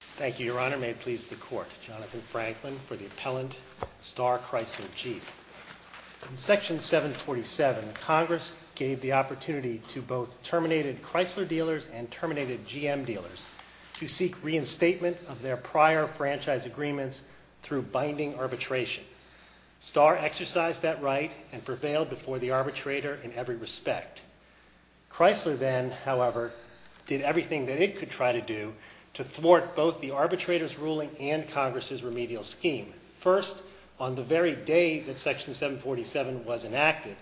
Thank you, Your Honor. May it please the Court, Jonathan Franklin, for the appellant, Starr Chrysler, Chief. In Section 747, Congress gave the opportunity to both terminated Chrysler dealers and terminated GM dealers to seek reinstatement of their prior franchise agreements through binding arbitration. Starr exercised that right and prevailed before the arbitrator in every respect. Chrysler then, however, did everything that it could try to do to thwart both the arbitrator's ruling and Congress' remedial scheme. First, on the very day that Section 747 was enacted,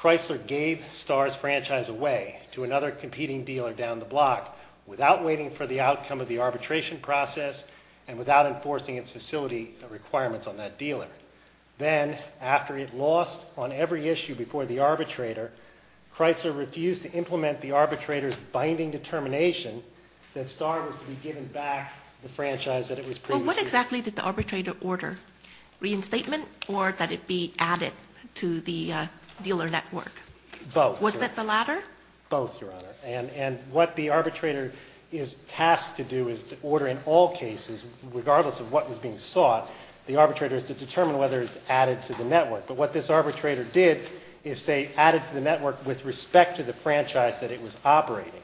Chrysler gave Starr's franchise away to another competing dealer down the block without waiting for the outcome of the arbitration process and without enforcing its facility requirements on that dealer. Then, after it lost on every issue before the arbitrator, Chrysler refused to implement the arbitrator's binding determination that Starr was to be given back the franchise that it was previously— Well, what exactly did the arbitrator order? Reinstatement or that it be added to the dealer network? Both. Was that the latter? Both, Your Honor. And what the arbitrator is tasked to do is to order in all cases, regardless of what was being sought, the arbitrator is to determine whether it's added to the network. But what this arbitrator did is say added to the network with respect to the franchise that it was operating.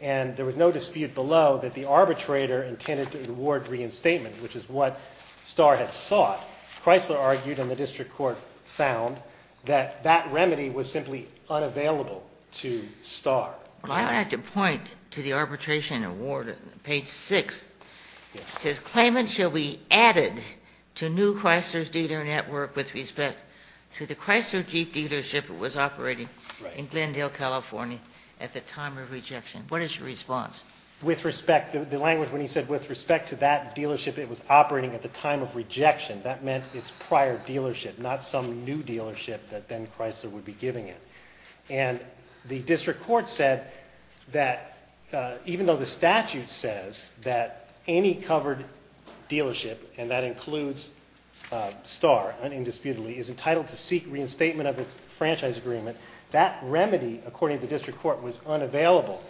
And there was no dispute below that the arbitrator intended to award reinstatement, which is what Starr had sought. Chrysler argued, and the district court found, that that remedy was simply unavailable to Starr. Well, I would have to point to the arbitration award on page 6. It says, claimant shall be added to new Chrysler's dealer network with respect to the Chrysler Jeep dealership it was operating in Glendale, California at the time of rejection. What is your response? With respect—the language when he said with respect to that dealership it was operating at the time of rejection, that meant its prior dealership, not some new dealership that then Chrysler would be giving it. And the district court said that even though the statute says that any covered dealership, and that includes Starr, undisputedly, is entitled to seek reinstatement of its franchise agreement, that remedy, according to the district court, was unavailable.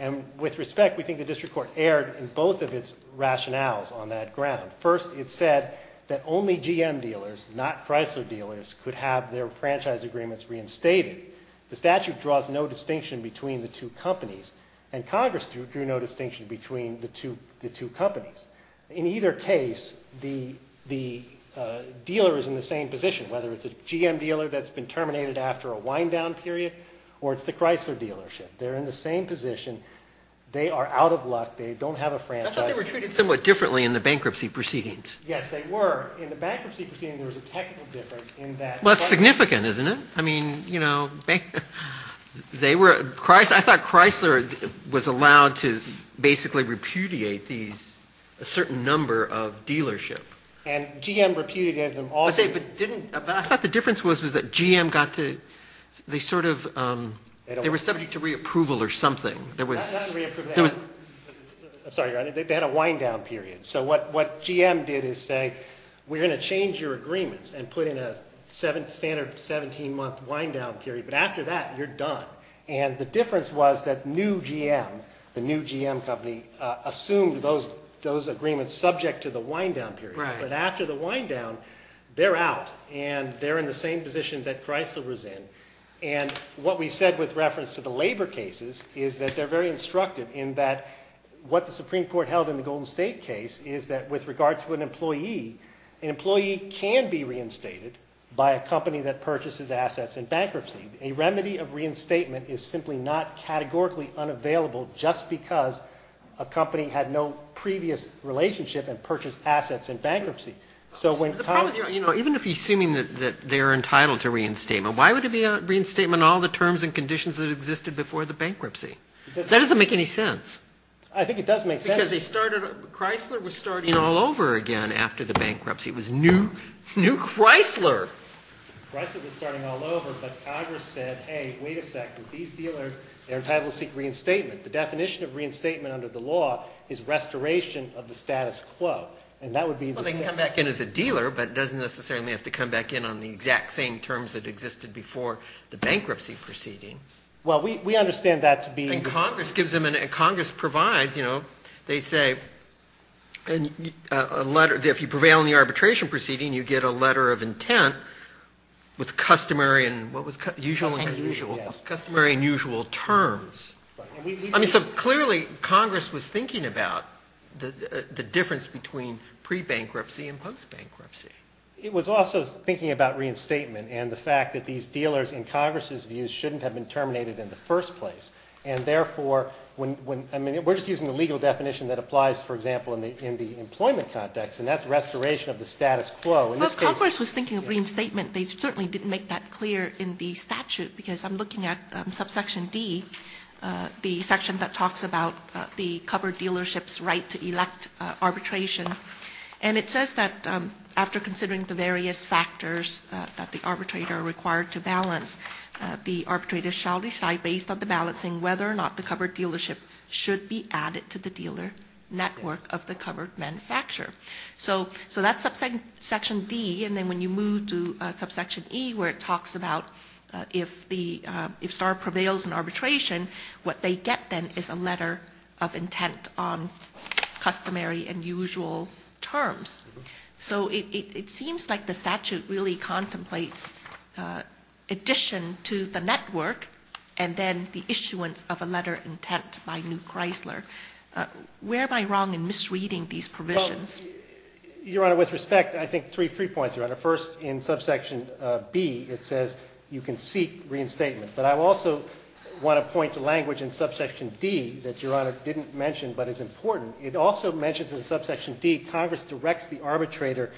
And with respect, we think the district court erred in both of its rationales on that ground. First, it said that only GM dealers, not Chrysler dealers, could have their franchise agreements reinstated. The statute draws no distinction between the two companies, and Congress drew no distinction between the two companies. In either case, the dealer is in the same position, whether it's a GM dealer that's been terminated after a wind-down period, or it's the Chrysler dealership. They're in the same position. They are out of luck. They don't have a franchise. I thought they were treated somewhat differently in the bankruptcy proceedings. Yes, they were. In the bankruptcy proceedings, there was a technical difference in that. Well, it's significant, isn't it? I mean, you know, they were – I thought Chrysler was allowed to basically repudiate these – a certain number of dealerships. And GM repudiated them all. But didn't – I thought the difference was that GM got to – they sort of – they were subject to reapproval or something. I'm sorry, Your Honor. They had a wind-down period. So what GM did is say, we're going to change your agreements and put in a standard 17-month wind-down period, but after that, you're done. And the difference was that new GM, the new GM company, assumed those agreements subject to the wind-down period. But after the wind-down, they're out, and they're in the same position that Chrysler was in. And what we said with reference to the labor cases is that they're very instructive in that what the Supreme Court held in the Golden State case is that with regard to an employee, an employee can be reinstated by a company that purchases assets in bankruptcy. A remedy of reinstatement is simply not categorically unavailable just because a company had no previous relationship and purchased assets in bankruptcy. Even if you're assuming that they're entitled to reinstatement, why would it be a reinstatement on all the terms and conditions that existed before the bankruptcy? That doesn't make any sense. I think it does make sense. Because they started – Chrysler was starting all over again after the bankruptcy. It was new Chrysler. Chrysler was starting all over, but Congress said, hey, wait a second. These dealers, they're entitled to seek reinstatement. The definition of reinstatement under the law is restoration of the status quo. And that would be – Well, they can come back in as a dealer, but it doesn't necessarily have to come back in on the exact same terms that existed before the bankruptcy proceeding. Well, we understand that to be – And Congress gives them – and Congress provides – they say a letter – if you prevail in the arbitration proceeding, you get a letter of intent with customary and – what was – usual and – Customary and usual. Customary and usual terms. I mean, so clearly Congress was thinking about the difference between pre-bankruptcy and post-bankruptcy. It was also thinking about reinstatement and the fact that these dealers, in Congress' views, shouldn't have been terminated in the first place. And therefore, when – I mean, we're just using the legal definition that applies, for example, in the employment context, and that's restoration of the status quo. Well, Congress was thinking of reinstatement. They certainly didn't make that clear in the statute because I'm looking at subsection D, the section that talks about the covered dealership's right to elect arbitration. And it says that after considering the various factors that the arbitrator required to balance, the arbitrator shall decide, based on the balancing, whether or not the covered dealership should be added to the dealer network of the covered manufacturer. So that's subsection D. And then when you move to subsection E, where it talks about if the – if STAR prevails in arbitration, what they get then is a letter of intent on customary and usual terms. So it seems like the statute really contemplates addition to the network and then the issuance of a letter of intent by New Chrysler. Where am I wrong in misreading these provisions? Well, Your Honor, with respect, I think three points, Your Honor. First, in subsection B, it says you can seek reinstatement. But I also want to point to language in subsection D that Your Honor didn't mention but is important. It also mentions in subsection D Congress directs the arbitrator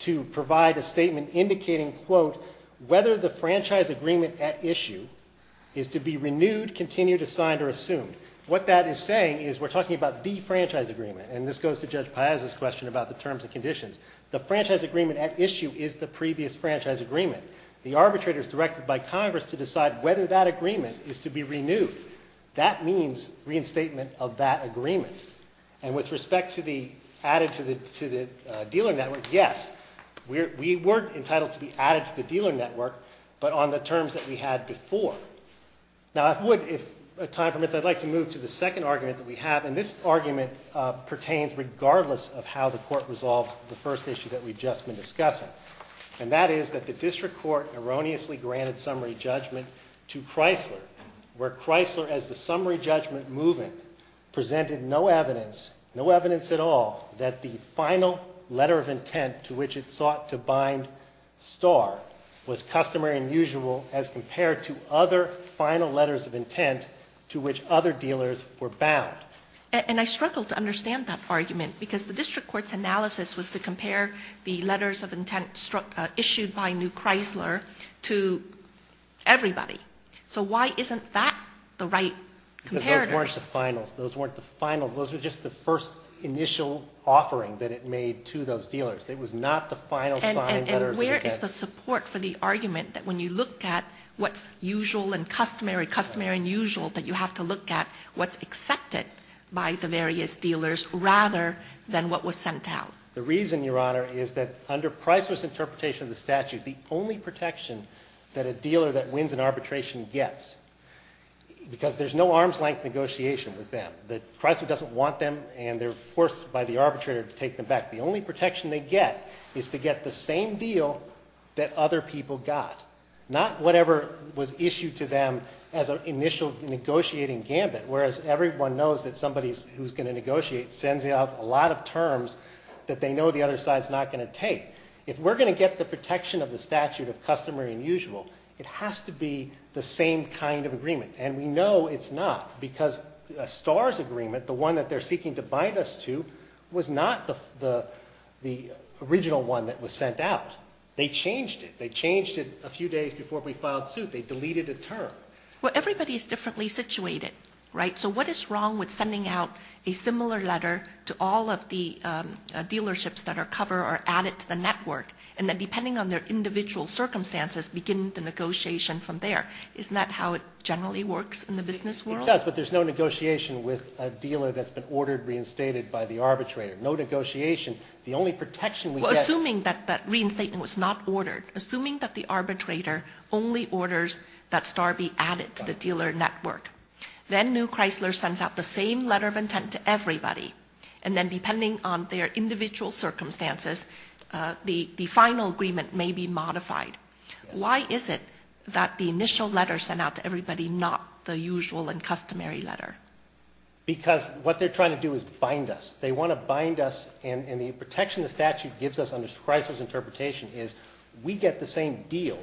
to provide a statement indicating, quote, whether the franchise agreement at issue is to be renewed, continued, assigned, or assumed. What that is saying is we're talking about the franchise agreement. And this goes to Judge Piazza's question about the terms and conditions. The franchise agreement at issue is the previous franchise agreement. The arbitrator is directed by Congress to decide whether that agreement is to be renewed. That means reinstatement of that agreement. And with respect to the added to the dealer network, yes, we were entitled to be added to the dealer network, but on the terms that we had before. Now, if time permits, I'd like to move to the second argument that we have. And this argument pertains regardless of how the Court resolves the first issue that we've just been discussing. And that is that the district court erroneously granted summary judgment to Chrysler, where Chrysler, as the summary judgment moving, presented no evidence, no evidence at all, that the final letter of intent to which it sought to bind Star was customary and usual as compared to other final letters of intent to which other dealers were bound. And I struggle to understand that argument because the district court's analysis was to compare the letters of intent issued by New Chrysler to everybody. So why isn't that the right comparator? Because those weren't the finals. Those weren't the finals. Those were just the first initial offering that it made to those dealers. It was not the final sign letters of intent. And where is the support for the argument that when you look at what's usual and customary, customary and usual, that you have to look at what's accepted by the various dealers rather than what was sent out? The reason, Your Honor, is that under Chrysler's interpretation of the statute, the only protection that a dealer that wins an arbitration gets, because there's no arms-length negotiation with them, the Chrysler doesn't want them and they're forced by the arbitrator to take them back, the only protection they get is to get the same deal that other people got, not whatever was issued to them as an initial negotiating gambit, whereas everyone knows that somebody who's going to negotiate sends out a lot of terms that they know the other side's not going to take. If we're going to get the protection of the statute of customary and usual, it has to be the same kind of agreement. And we know it's not because a STARS agreement, the one that they're seeking to bind us to, was not the original one that was sent out. They changed it. They changed it a few days before we filed suit. They deleted a term. Well, everybody's differently situated, right? So what is wrong with sending out a similar letter to all of the dealerships that are covered or added to the network and then depending on their individual circumstances begin the negotiation from there? Isn't that how it generally works in the business world? It does, but there's no negotiation with a dealer that's been ordered, reinstated by the arbitrator. No negotiation. The only protection we get is... Well, assuming that that reinstatement was not ordered, assuming that the arbitrator only orders that STAR be added to the dealer network, then New Chrysler sends out the same letter of intent to everybody, and then depending on their individual circumstances, the final agreement may be modified. Why is it that the initial letter sent out to everybody, not the usual and customary letter? Because what they're trying to do is bind us. They want to bind us, and the protection the statute gives us under Chrysler's interpretation is we get the same deal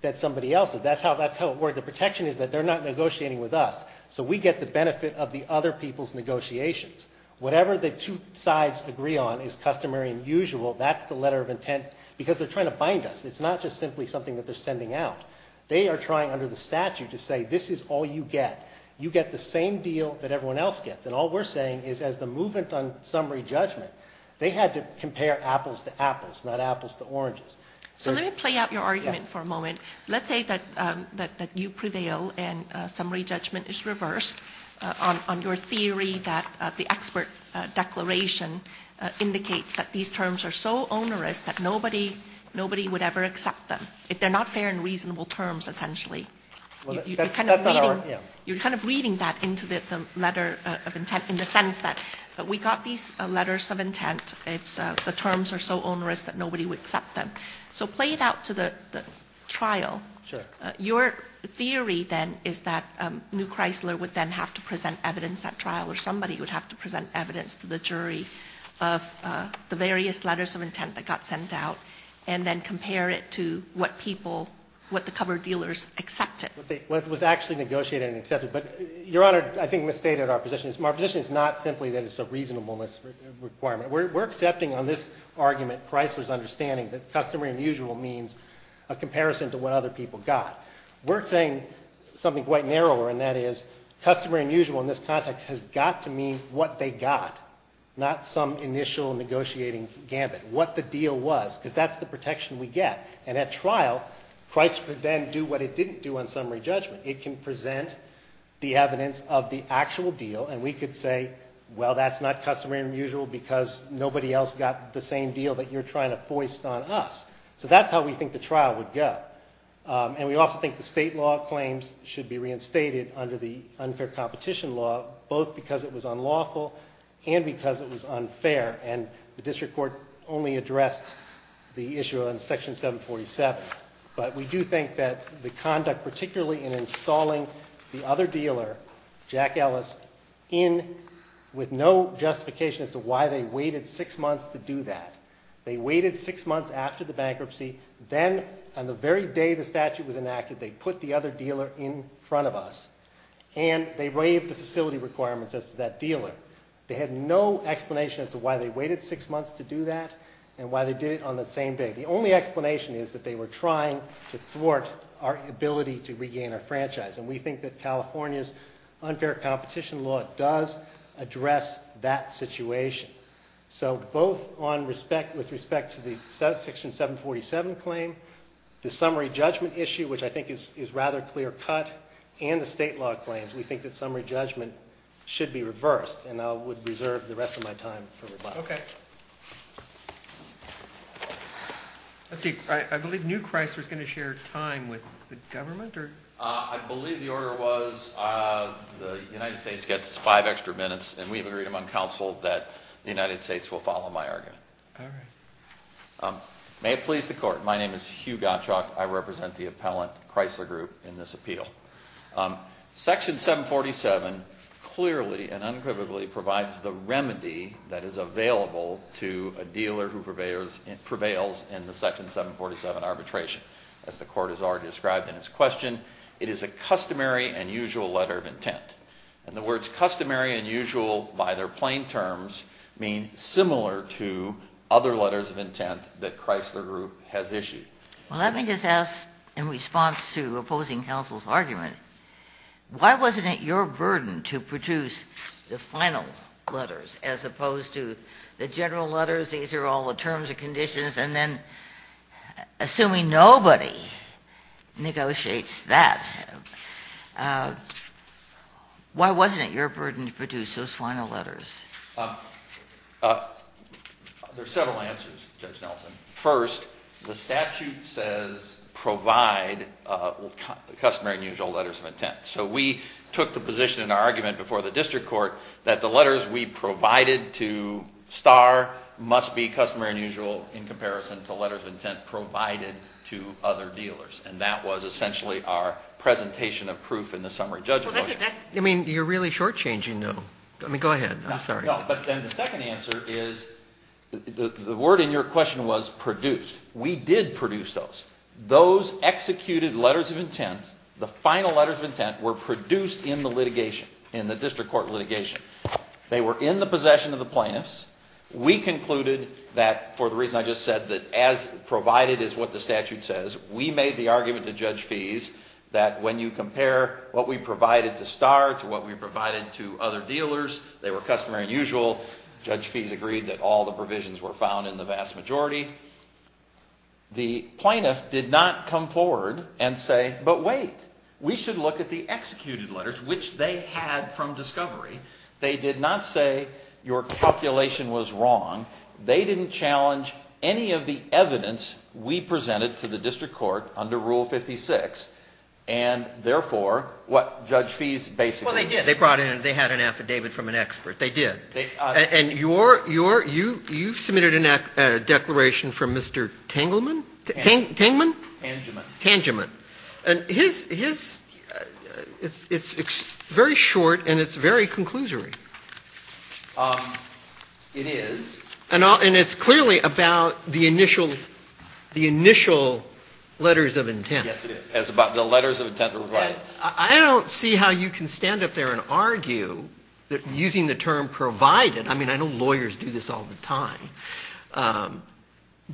that somebody else. That's how it works. The protection is that they're not negotiating with us, so we get the benefit of the other people's negotiations. Whatever the two sides agree on is customary and usual. That's the letter of intent because they're trying to bind us. It's not just simply something that they're sending out. They are trying under the statute to say this is all you get. You get the same deal that everyone else gets, and all we're saying is as the movement on summary judgment, they had to compare apples to apples, not apples to oranges. So let me play out your argument for a moment. Let's say that you prevail and summary judgment is reversed on your theory that the expert declaration indicates that these terms are so onerous that nobody would ever accept them. They're not fair and reasonable terms, essentially. You're kind of reading that into the letter of intent in the sense that we got these letters of intent. The terms are so onerous that nobody would accept them. So play it out to the trial. Your theory then is that New Chrysler would then have to present evidence at trial or somebody would have to present evidence to the jury of the various letters of intent that got sent out and then compare it to what people, what the cover dealers accepted. Well, it was actually negotiated and accepted. But, Your Honor, I think misstated our position. Our position is not simply that it's a reasonableness requirement. We're accepting on this argument Chrysler's understanding that customary and usual means a comparison to what other people got. We're saying something quite narrower, and that is, customary and usual in this context has got to mean what they got, not some initial negotiating gambit, what the deal was, because that's the protection we get. And at trial, Chrysler would then do what it didn't do on summary judgment. It can present the evidence of the actual deal, and we could say, well, that's not customary and usual because nobody else got the same deal that you're trying to foist on us. So that's how we think the trial would go. And we also think the state law claims should be reinstated under the unfair competition law, both because it was unlawful and because it was unfair. And the district court only addressed the issue on Section 747. But we do think that the conduct, particularly in installing the other dealer, Jack Ellis, in with no justification as to why they waited six months to do that. They waited six months after the bankruptcy. Then on the very day the statute was enacted, they put the other dealer in front of us, and they waived the facility requirements as to that dealer. They had no explanation as to why they waited six months to do that and why they did it on that same day. The only explanation is that they were trying to thwart our ability to regain our franchise, and we think that California's unfair competition law does address that situation. So both with respect to the Section 747 claim, the summary judgment issue, which I think is a rather clear cut, and the state law claims, we think that summary judgment should be reversed, and I would reserve the rest of my time for rebuttal. Okay. I believe New Chrysler is going to share time with the government? I believe the order was the United States gets five extra minutes, and we've agreed among counsel that the United States will follow my argument. All right. May it please the Court, my name is Hugh Gottschalk. I represent the appellant Chrysler Group in this appeal. Section 747 clearly and unequivocally provides the remedy that is available to a dealer who prevails in the Section 747 arbitration. As the Court has already described in its question, it is a customary and usual letter of intent. And the words customary and usual by their plain terms mean similar to other letters of intent that Chrysler Group has issued. Well, let me just ask in response to opposing counsel's argument, why wasn't it your burden to produce the final letters as opposed to the general letters, these are all the terms and conditions, and then assuming nobody negotiates that, why wasn't it your burden to produce those final letters? There are several answers, Judge Nelson. First, the statute says provide the customary and usual letters of intent. So we took the position in our argument before the district court that the letters we provided to Starr must be customary and usual in comparison to letters of intent provided to other dealers. And that was essentially our presentation of proof in the summary judgment motion. I mean, you're really shortchanging though. I mean, go ahead. I'm sorry. No, but then the second answer is the word in your question was produced. We did produce those. Those executed letters of intent, the final letters of intent, were produced in the litigation, in the district court litigation. They were in the possession of the plaintiffs. We concluded that, for the reason I just said, that as provided is what the statute says, we made the argument to Judge Fies that when you compare what we provided to Starr to what we provided to other dealers, they were customary and usual. Judge Fies agreed that all the provisions were found in the vast majority. The plaintiff did not come forward and say, but wait, we should look at the executed letters, which they had from discovery. They did not say your calculation was wrong. They didn't challenge any of the evidence we presented to the district court under Rule 56, and therefore what Judge Fies basically said. Well, they did. They brought in, they had an affidavit from an expert. They did. And you submitted a declaration from Mr. Tengelman? Tengelman? Tangeman. Tangeman. And his, it's very short and it's very conclusory. It is. And it's clearly about the initial letters of intent. Yes, it is. It's about the letters of intent that were provided. I don't see how you can stand up there and argue that using the term provided, I mean, I know lawyers do this all the time,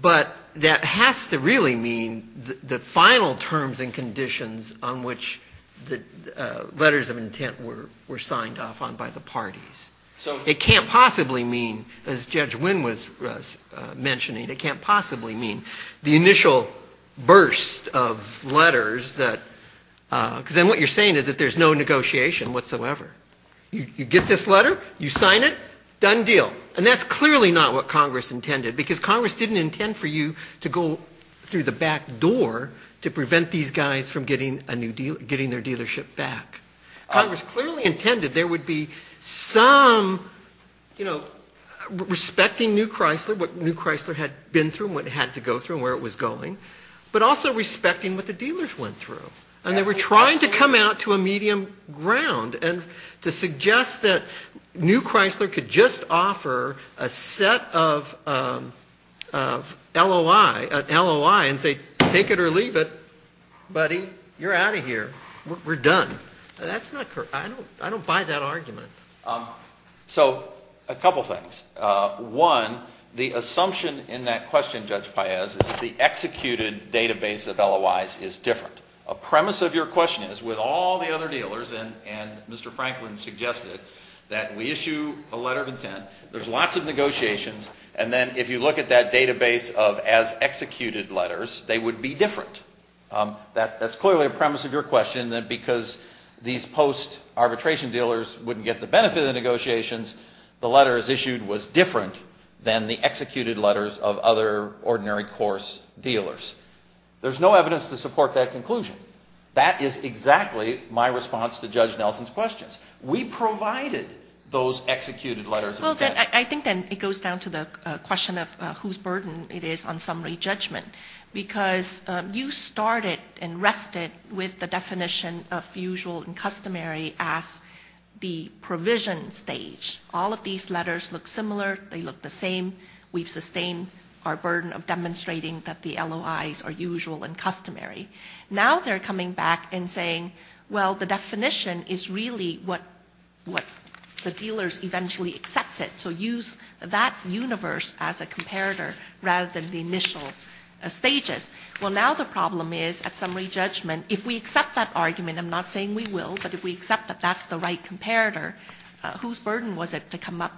but that has to really mean the final terms and conditions on which the letters of intent were signed off on by the parties. It can't possibly mean, as Judge Wynn was mentioning, it can't possibly mean the initial burst of letters that, because then what you're saying is that there's no negotiation whatsoever. You get this letter, you sign it, done deal. And that's clearly not what Congress intended, because Congress didn't intend for you to go through the back door to prevent these guys from getting their dealership back. Congress clearly intended there would be some, you know, respecting New Chrysler, what New Chrysler had been through and what it had to go through and where it was going, but also respecting what the dealers went through. And they were trying to come out to a medium ground and to suggest that New Chrysler could just offer a set of LOI and say, take it or leave it, buddy, you're out of here. We're done. That's not correct. I don't buy that argument. So a couple things. One, the assumption in that question, Judge Paez, is that the executed database of LOIs is different. A premise of your question is, with all the other dealers, and Mr. Franklin suggested it, that we issue a letter of intent, there's lots of negotiations, and then if you look at that database of as-executed letters, they would be different. That's clearly a premise of your question, that because these post-arbitration dealers wouldn't get the benefit of the negotiations, the letters issued was different than the executed letters of other ordinary course dealers. There's no evidence to support that conclusion. That is exactly my response to Judge Nelson's questions. We provided those executed letters of intent. I think then it goes down to the question of whose burden it is on summary judgment, because you started and rested with the definition of usual and customary as the provision stage. All of these letters look similar. They look the same. We've sustained our burden of demonstrating that the LOIs are usual and customary. Now they're coming back and saying, well, the definition is really what the dealers eventually accepted. So use that universe as a comparator rather than the initial stages. Well, now the problem is, at summary judgment, if we accept that argument, I'm not saying we will, but if we accept that that's the right comparator, whose burden was it to come up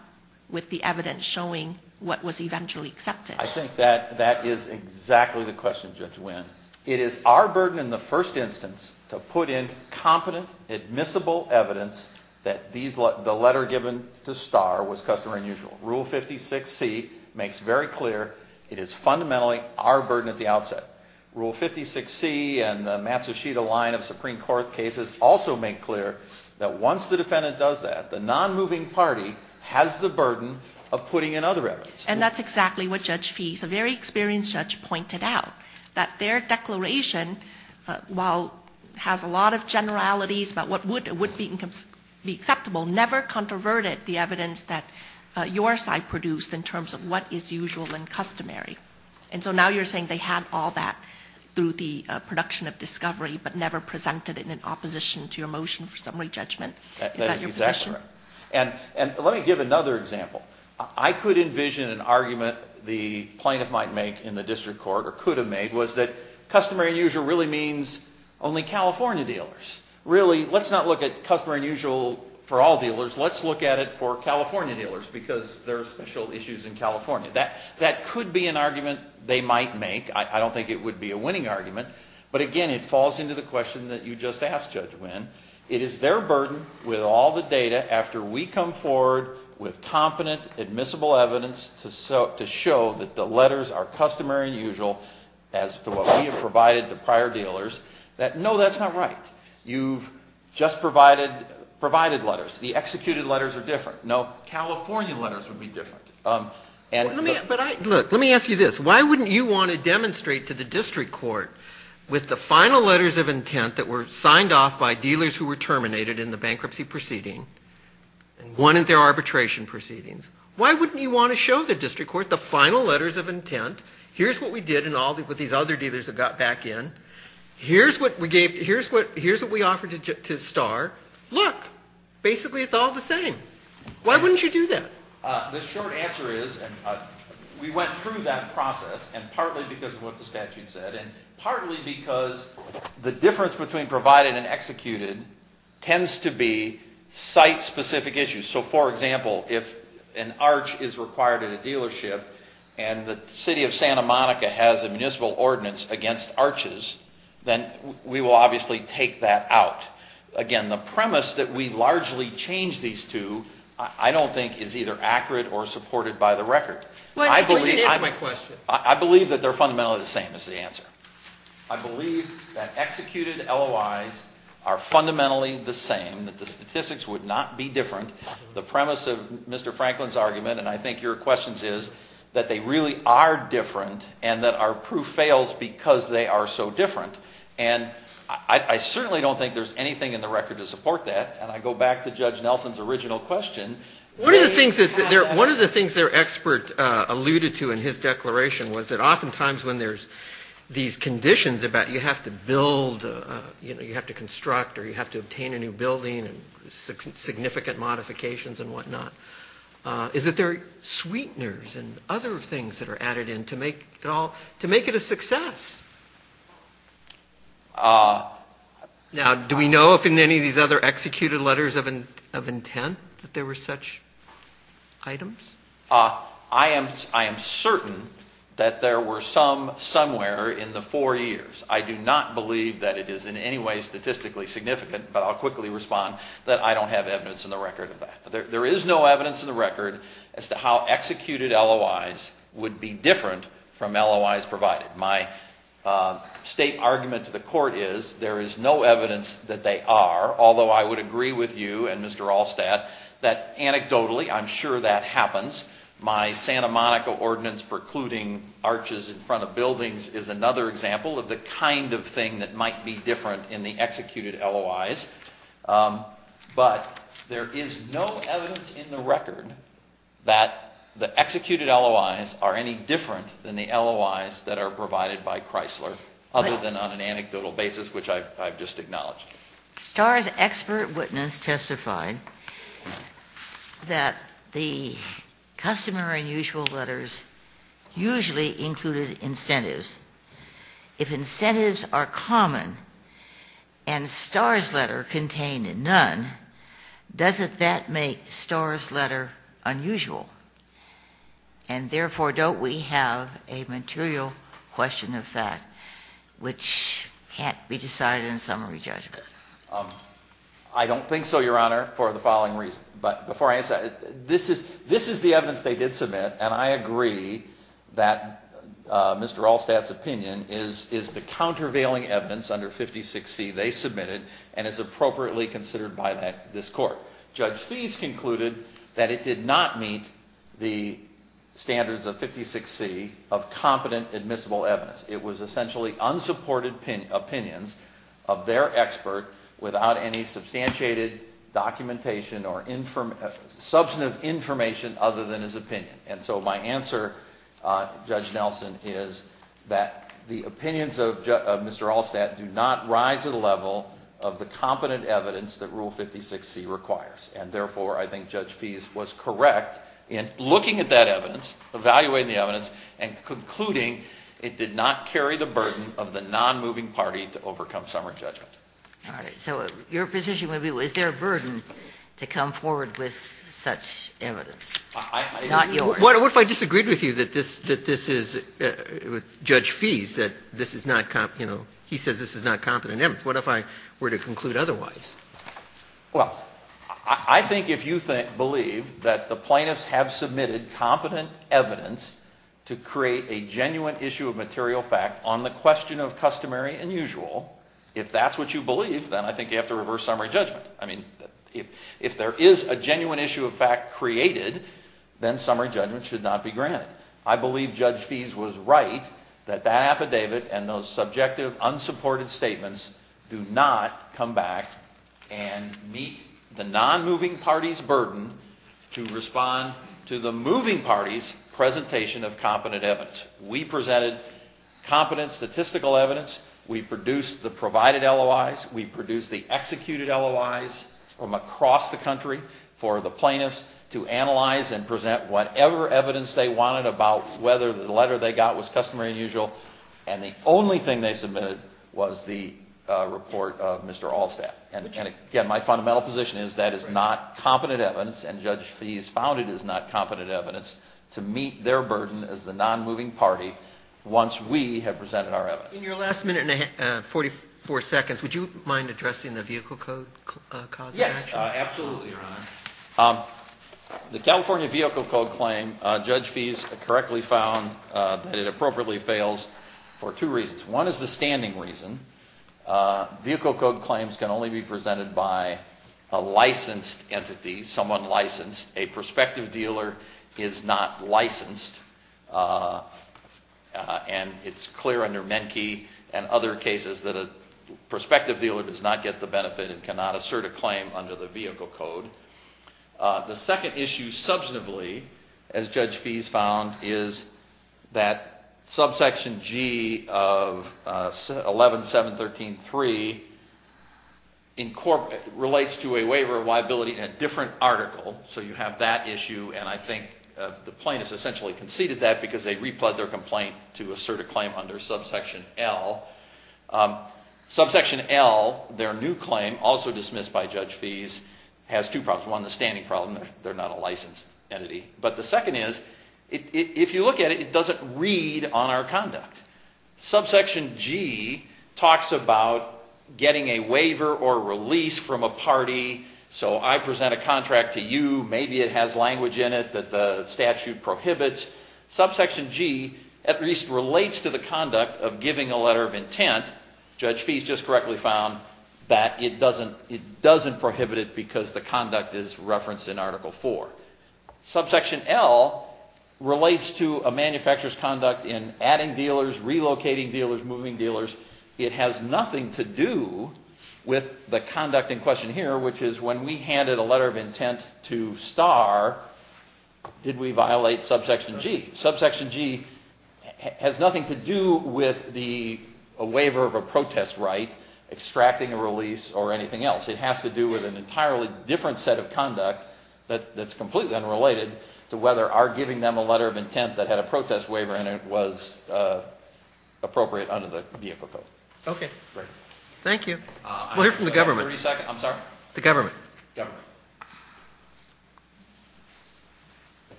with the evidence showing what was eventually accepted? I think that is exactly the question, Judge Nguyen. It is our burden in the first instance to put in competent, admissible evidence that the letter given to Starr was customary and usual. Rule 56C makes very clear it is fundamentally our burden at the outset. Rule 56C and the Matsushita line of Supreme Court cases also make clear that once the defendant does that, the nonmoving party has the burden of putting in other evidence. And that's exactly what Judge Fease, a very experienced judge, pointed out, that their declaration, while it has a lot of generalities about what would be acceptable, never controverted the evidence that your side produced in terms of what is usual and customary. And so now you're saying they had all that through the production of discovery, but never presented it in opposition to your motion for summary judgment. Is that your position? That is exactly right. And let me give another example. I could envision an argument the plaintiff might make in the district court, or could have made, was that customary and usual really means only California dealers. Really, let's not look at customary and usual for all dealers. Let's look at it for California dealers because there are special issues in California. That could be an argument they might make. I don't think it would be a winning argument. But again, it falls into the question that you just asked, Judge Nguyen. It is their burden with all the data after we come forward with competent, admissible evidence to show that the letters are customary and usual as to what we have provided to prior dealers, that no, that's not right. You've just provided letters. The executed letters are different. No, California letters would be different. Look, let me ask you this. Why wouldn't you want to demonstrate to the district court with the final letters of intent that were signed off by dealers who were terminated in the bankruptcy proceeding and won at their arbitration proceedings? Why wouldn't you want to show the district court the final letters of intent? Here's what we did with these other dealers that got back in. Here's what we offered to Starr. Look, basically it's all the same. Why wouldn't you do that? The short answer is we went through that process and partly because of what the statute said and partly because the difference between provided and executed tends to be site-specific issues. So, for example, if an arch is required at a dealership and the city of Santa Monica has a municipal ordinance against arches, then we will obviously take that out. Again, the premise that we largely change these two I don't think is either accurate or supported by the record. I believe that executed LOIs are fundamentally the same, that the statistics would not be different. The premise of Mr. Franklin's argument, and I think your questions is, that they really are different and that our proof fails because they are so different. And I certainly don't think there's anything in the record to support that. And I go back to Judge Nelson's original question. One of the things their expert alluded to in his declaration was that oftentimes when there's these conditions about you have to build, you know, you have to construct or you have to obtain a new building and significant modifications and whatnot, is that there are sweeteners and other things that are added in to make it a success. Now, do we know if in any of these other executed letters of intent that there were such items? I am certain that there were some somewhere in the four years. I do not believe that it is in any way statistically significant, but I'll quickly respond that I don't have evidence in the record of that. There is no evidence in the record as to how executed LOIs would be different from LOIs provided. My state argument to the court is there is no evidence that they are, although I would agree with you and Mr. Allstadt that anecdotally I'm sure that happens. My Santa Monica ordinance precluding arches in front of buildings is another example of the kind of thing that might be different in the executed LOIs. But there is no evidence in the record that the executed LOIs are any different than the LOIs that are provided by Chrysler other than on an anecdotal basis, which I've just acknowledged. Star's expert witness testified that the customer unusual letters usually included incentives. If incentives are common and Star's letter contained none, doesn't that make Star's letter unusual? And therefore, don't we have a material question of fact which can't be decided in summary judgment? I don't think so, Your Honor, for the following reason. But before I answer that, this is the evidence they did submit, and I agree that Mr. Allstadt's opinion is the countervailing evidence under 56C they submitted and is appropriately considered by this Court. Judge Feese concluded that it did not meet the standards of 56C of competent admissible evidence. It was essentially unsupported opinions of their expert without any substantiated documentation or substantive information other than his opinion. And so my answer, Judge Nelson, is that the opinions of Mr. Allstadt do not rise to the level of the competent evidence that Rule 56C requires. And therefore, I think Judge Feese was correct in looking at that evidence, evaluating the evidence, and concluding it did not carry the burden of the nonmoving party to overcome summary judgment. All right. So your position would be, is there a burden to come forward with such evidence? Not yours. What if I disagreed with you that this is, with Judge Feese, that this is not, you know, he says this is not competent evidence. What if I were to conclude otherwise? Well, I think if you believe that the plaintiffs have submitted competent evidence to create a genuine issue of material fact on the question of customary and usual, if that's what you believe, then I think you have to reverse summary judgment. I mean, if there is a genuine issue of fact created, then summary judgment should not be granted. I believe Judge Feese was right that that affidavit and those subjective unsupported statements do not come back and meet the nonmoving party's burden to respond to the moving party's presentation of competent evidence. We presented competent statistical evidence. We produced the provided LOIs. We produced the executed LOIs from across the country for the plaintiffs to analyze and present whatever evidence they wanted about whether the letter they got was customary and usual, and the only thing they submitted was the report of Mr. Allstat. And again, my fundamental position is that is not competent evidence, and Judge Feese found it is not competent evidence to meet their burden as the nonmoving party once we have presented our evidence. In your last minute and 44 seconds, would you mind addressing the vehicle code clause? Yes, absolutely, Your Honor. The California vehicle code claim, Judge Feese correctly found that it appropriately fails for two reasons. One is the standing reason. Vehicle code claims can only be presented by a licensed entity, someone licensed. A prospective dealer is not licensed, and it's clear under Menke and other cases that a prospective dealer does not get the benefit and cannot assert a claim under the vehicle code. The second issue substantively, as Judge Feese found, is that subsection G of 11-713-3 relates to a waiver of liability in a different article. So you have that issue, and I think the plaintiffs essentially conceded that because they replied their complaint to assert a claim under subsection L. Subsection L, their new claim, also dismissed by Judge Feese, has two problems. One, the standing problem, they're not a licensed entity. But the second is, if you look at it, it doesn't read on our conduct. Subsection G talks about getting a waiver or release from a party, so I present a contract to you, maybe it has language in it that the statute prohibits. Subsection G at least relates to the conduct of giving a letter of intent. Judge Feese just correctly found that it doesn't prohibit it because the conduct is referenced in Article IV. Subsection L relates to a manufacturer's conduct in adding dealers, relocating dealers, moving dealers. It has nothing to do with the conduct in question here, which is when we handed a letter of intent to Star, did we violate subsection G? Subsection G has nothing to do with the waiver of a protest right, extracting a release, or anything else. It has to do with an entirely different set of conduct that's completely unrelated to whether our giving them a letter of intent that had a protest waiver in it was appropriate under the vehicle code. Okay. Thank you. We'll hear from the government. I'm sorry? The government. Government.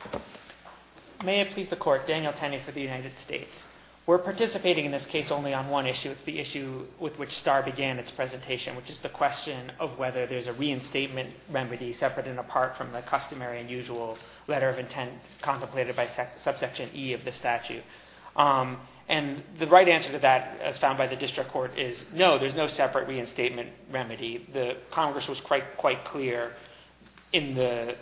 Thank you. May it please the Court. Daniel Tenney for the United States. We're participating in this case only on one issue. It's the issue with which Star began its presentation, which is the question of whether there's a reinstatement remedy separate and apart from the customary and usual letter of intent contemplated by subsection E of the statute. And the right answer to that, as found by the district court, is no, there's no separate reinstatement remedy. Congress was quite clear in the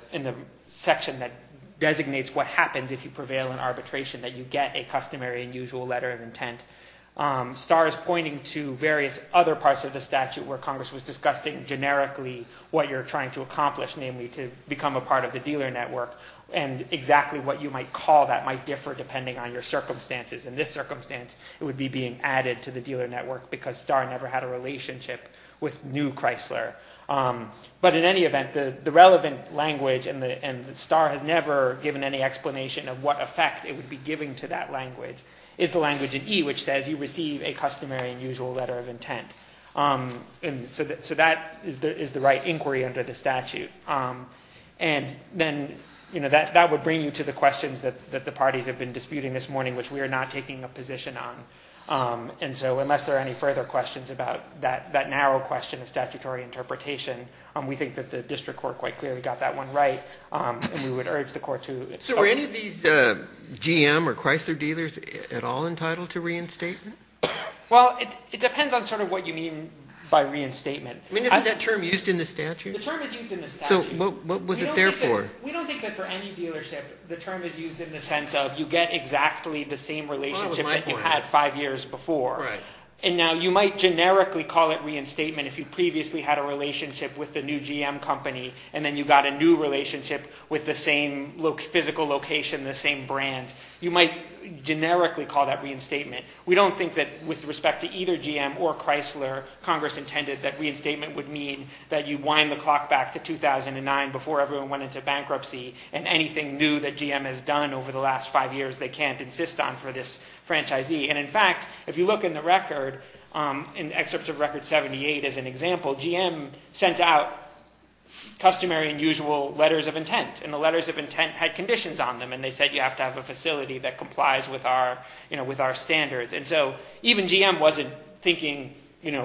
section that designates what happens if you prevail in arbitration, that you get a customary and usual letter of intent. Star is pointing to various other parts of the statute where Congress was discussing generically what you're trying to accomplish, namely to become a part of the dealer network. And exactly what you might call that might differ depending on your circumstances. In this circumstance, it would be being added to the dealer network because Star never had a relationship with New Chrysler. But in any event, the relevant language, and Star has never given any explanation of what effect it would be giving to that language, is the language in E which says you receive a customary and usual letter of intent. So that is the right inquiry under the statute. And then, you know, that would bring you to the questions that the parties have been disputing this morning, which we are not taking a position on. And so unless there are any further questions about that narrow question of statutory interpretation, we think that the district court quite clearly got that one right, and we would urge the court to – So were any of these GM or Chrysler dealers at all entitled to reinstatement? Well, it depends on sort of what you mean by reinstatement. I mean, isn't that term used in the statute? The term is used in the statute. So what was it there for? We don't think that for any dealership, the term is used in the sense of you get exactly the same relationship that you had five years before. And now you might generically call it reinstatement if you previously had a relationship with the new GM company, and then you got a new relationship with the same physical location, the same brands. You might generically call that reinstatement. We don't think that with respect to either GM or Chrysler, Congress intended that reinstatement would mean that you wind the clock back to 2009 before everyone went into bankruptcy and anything new that GM has done over the last five years they can't insist on for this franchisee. And, in fact, if you look in the record, in excerpts of Record 78, as an example, GM sent out customary and usual letters of intent, and the letters of intent had conditions on them, and they said you have to have a facility that complies with our standards. And so even GM wasn't thinking,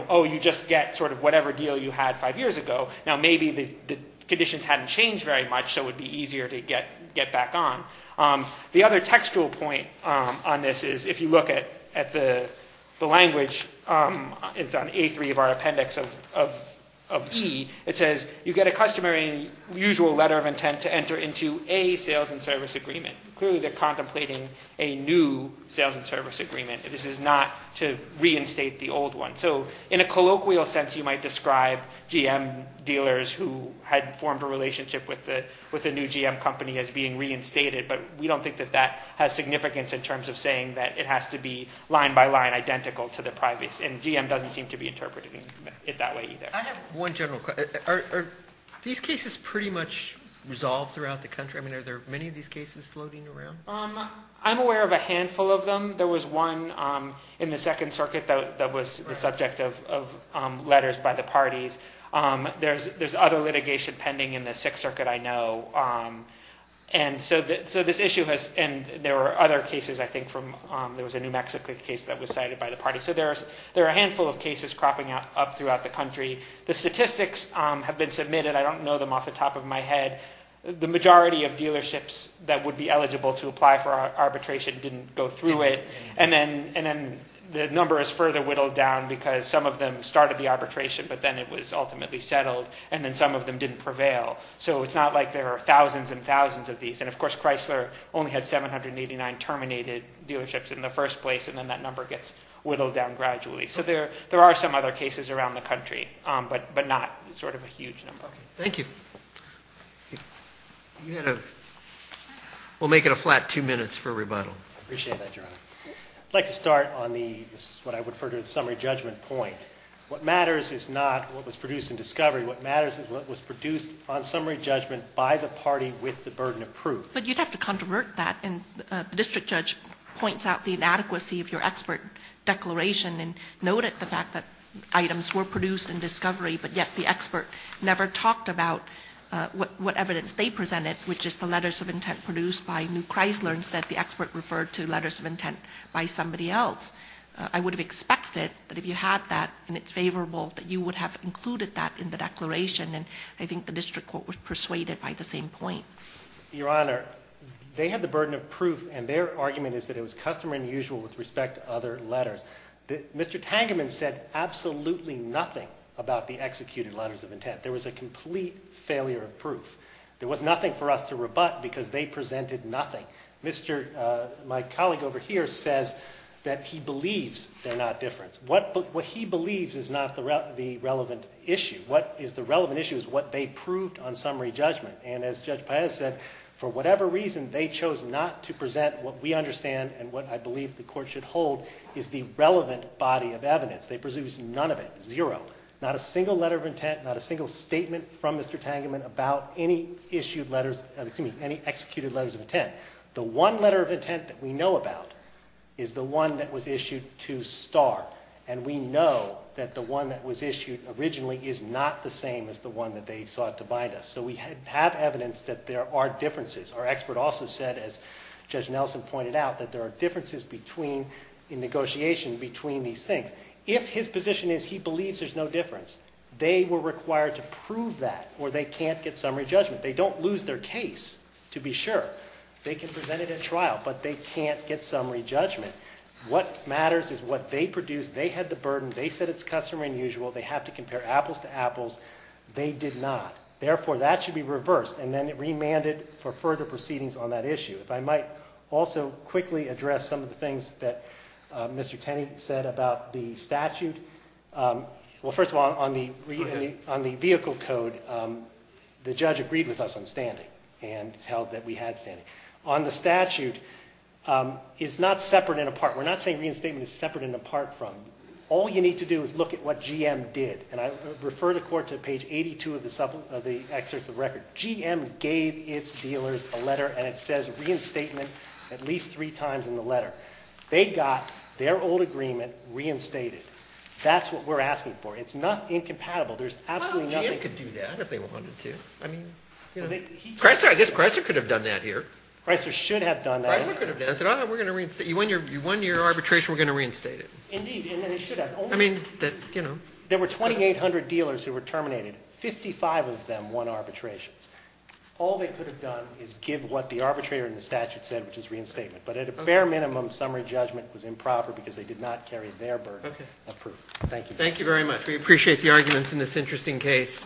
oh, you just get sort of whatever deal you had five years ago. Now maybe the conditions hadn't changed very much, so it would be easier to get back on. The other textual point on this is if you look at the language, it's on A3 of our appendix of E. It says you get a customary and usual letter of intent to enter into a sales and service agreement. Clearly they're contemplating a new sales and service agreement. This is not to reinstate the old one. So in a colloquial sense you might describe GM dealers who had formed a relationship with a new GM company as being reinstated, but we don't think that that has significance in terms of saying that it has to be line by line identical to the privates, and GM doesn't seem to be interpreting it that way either. I have one general question. Are these cases pretty much resolved throughout the country? I mean, are there many of these cases floating around? I'm aware of a handful of them. There was one in the Second Circuit that was the subject of letters by the parties. There's other litigation pending in the Sixth Circuit, I know. And so this issue has – and there were other cases, I think, from – there was a New Mexico case that was cited by the party. So there are a handful of cases cropping up throughout the country. The statistics have been submitted. I don't know them off the top of my head. The majority of dealerships that would be eligible to apply for arbitration didn't go through it. And then the number is further whittled down because some of them started the arbitration, but then it was ultimately settled, and then some of them didn't prevail. So it's not like there are thousands and thousands of these. And, of course, Chrysler only had 789 terminated dealerships in the first place, and then that number gets whittled down gradually. So there are some other cases around the country, but not sort of a huge number. Thank you. We'll make it a flat two minutes for rebuttal. I appreciate that, Your Honor. I'd like to start on the – this is what I would refer to as the summary judgment point. What matters is not what was produced in discovery. What matters is what was produced on summary judgment by the party with the burden approved. But you'd have to controvert that. And the district judge points out the inadequacy of your expert declaration and noted the fact that items were produced in discovery, but yet the expert never talked about what evidence they presented, which is the letters of intent produced by New Chrysler, instead the expert referred to letters of intent by somebody else. I would have expected that if you had that and it's favorable, that you would have included that in the declaration, and I think the district court was persuaded by the same point. Your Honor, they had the burden of proof, and their argument is that it was customer unusual with respect to other letters. Mr. Tangerman said absolutely nothing about the executed letters of intent. There was a complete failure of proof. There was nothing for us to rebut because they presented nothing. My colleague over here says that he believes they're not different. What he believes is not the relevant issue. What is the relevant issue is what they proved on summary judgment, and as Judge Paez said, for whatever reason, they chose not to present what we understand and what I believe the court should hold is the relevant body of evidence. They produced none of it, zero. Not a single letter of intent, not a single statement from Mr. Tangerman about any executed letters of intent. The one letter of intent that we know about is the one that was issued to Starr, and we know that the one that was issued originally is not the same as the one that they sought to bind us, so we have evidence that there are differences. Our expert also said, as Judge Nelson pointed out, that there are differences in negotiation between these things. If his position is he believes there's no difference, they were required to prove that or they can't get summary judgment. They don't lose their case to be sure. They can present it at trial, but they can't get summary judgment. What matters is what they produced. They had the burden. They said it's customary and usual. They have to compare apples to apples. They did not. Therefore, that should be reversed, and then remanded for further proceedings on that issue. If I might also quickly address some of the things that Mr. Tenney said about the statute. Well, first of all, on the vehicle code, the judge agreed with us on standing and held that we had standing. On the statute, it's not separate and apart. We're not saying reinstatement is separate and apart from. All you need to do is look at what GM did, and I refer the court to page 82 of the excerpt of the record. GM gave its dealers a letter, and it says reinstatement at least three times in the letter. They got their old agreement reinstated. That's what we're asking for. It's not incompatible. There's absolutely nothing. They could do that if they wanted to. I guess Chrysler could have done that here. Chrysler should have done that. Chrysler could have done it. You won your arbitration, we're going to reinstate it. Indeed, and they should have. There were 2,800 dealers who were terminated. 55 of them won arbitrations. All they could have done is give what the arbitrator in the statute said, which is reinstatement. But at a bare minimum, summary judgment was improper because they did not carry their burden of proof. Thank you. Thank you very much. We appreciate the arguments in this interesting case.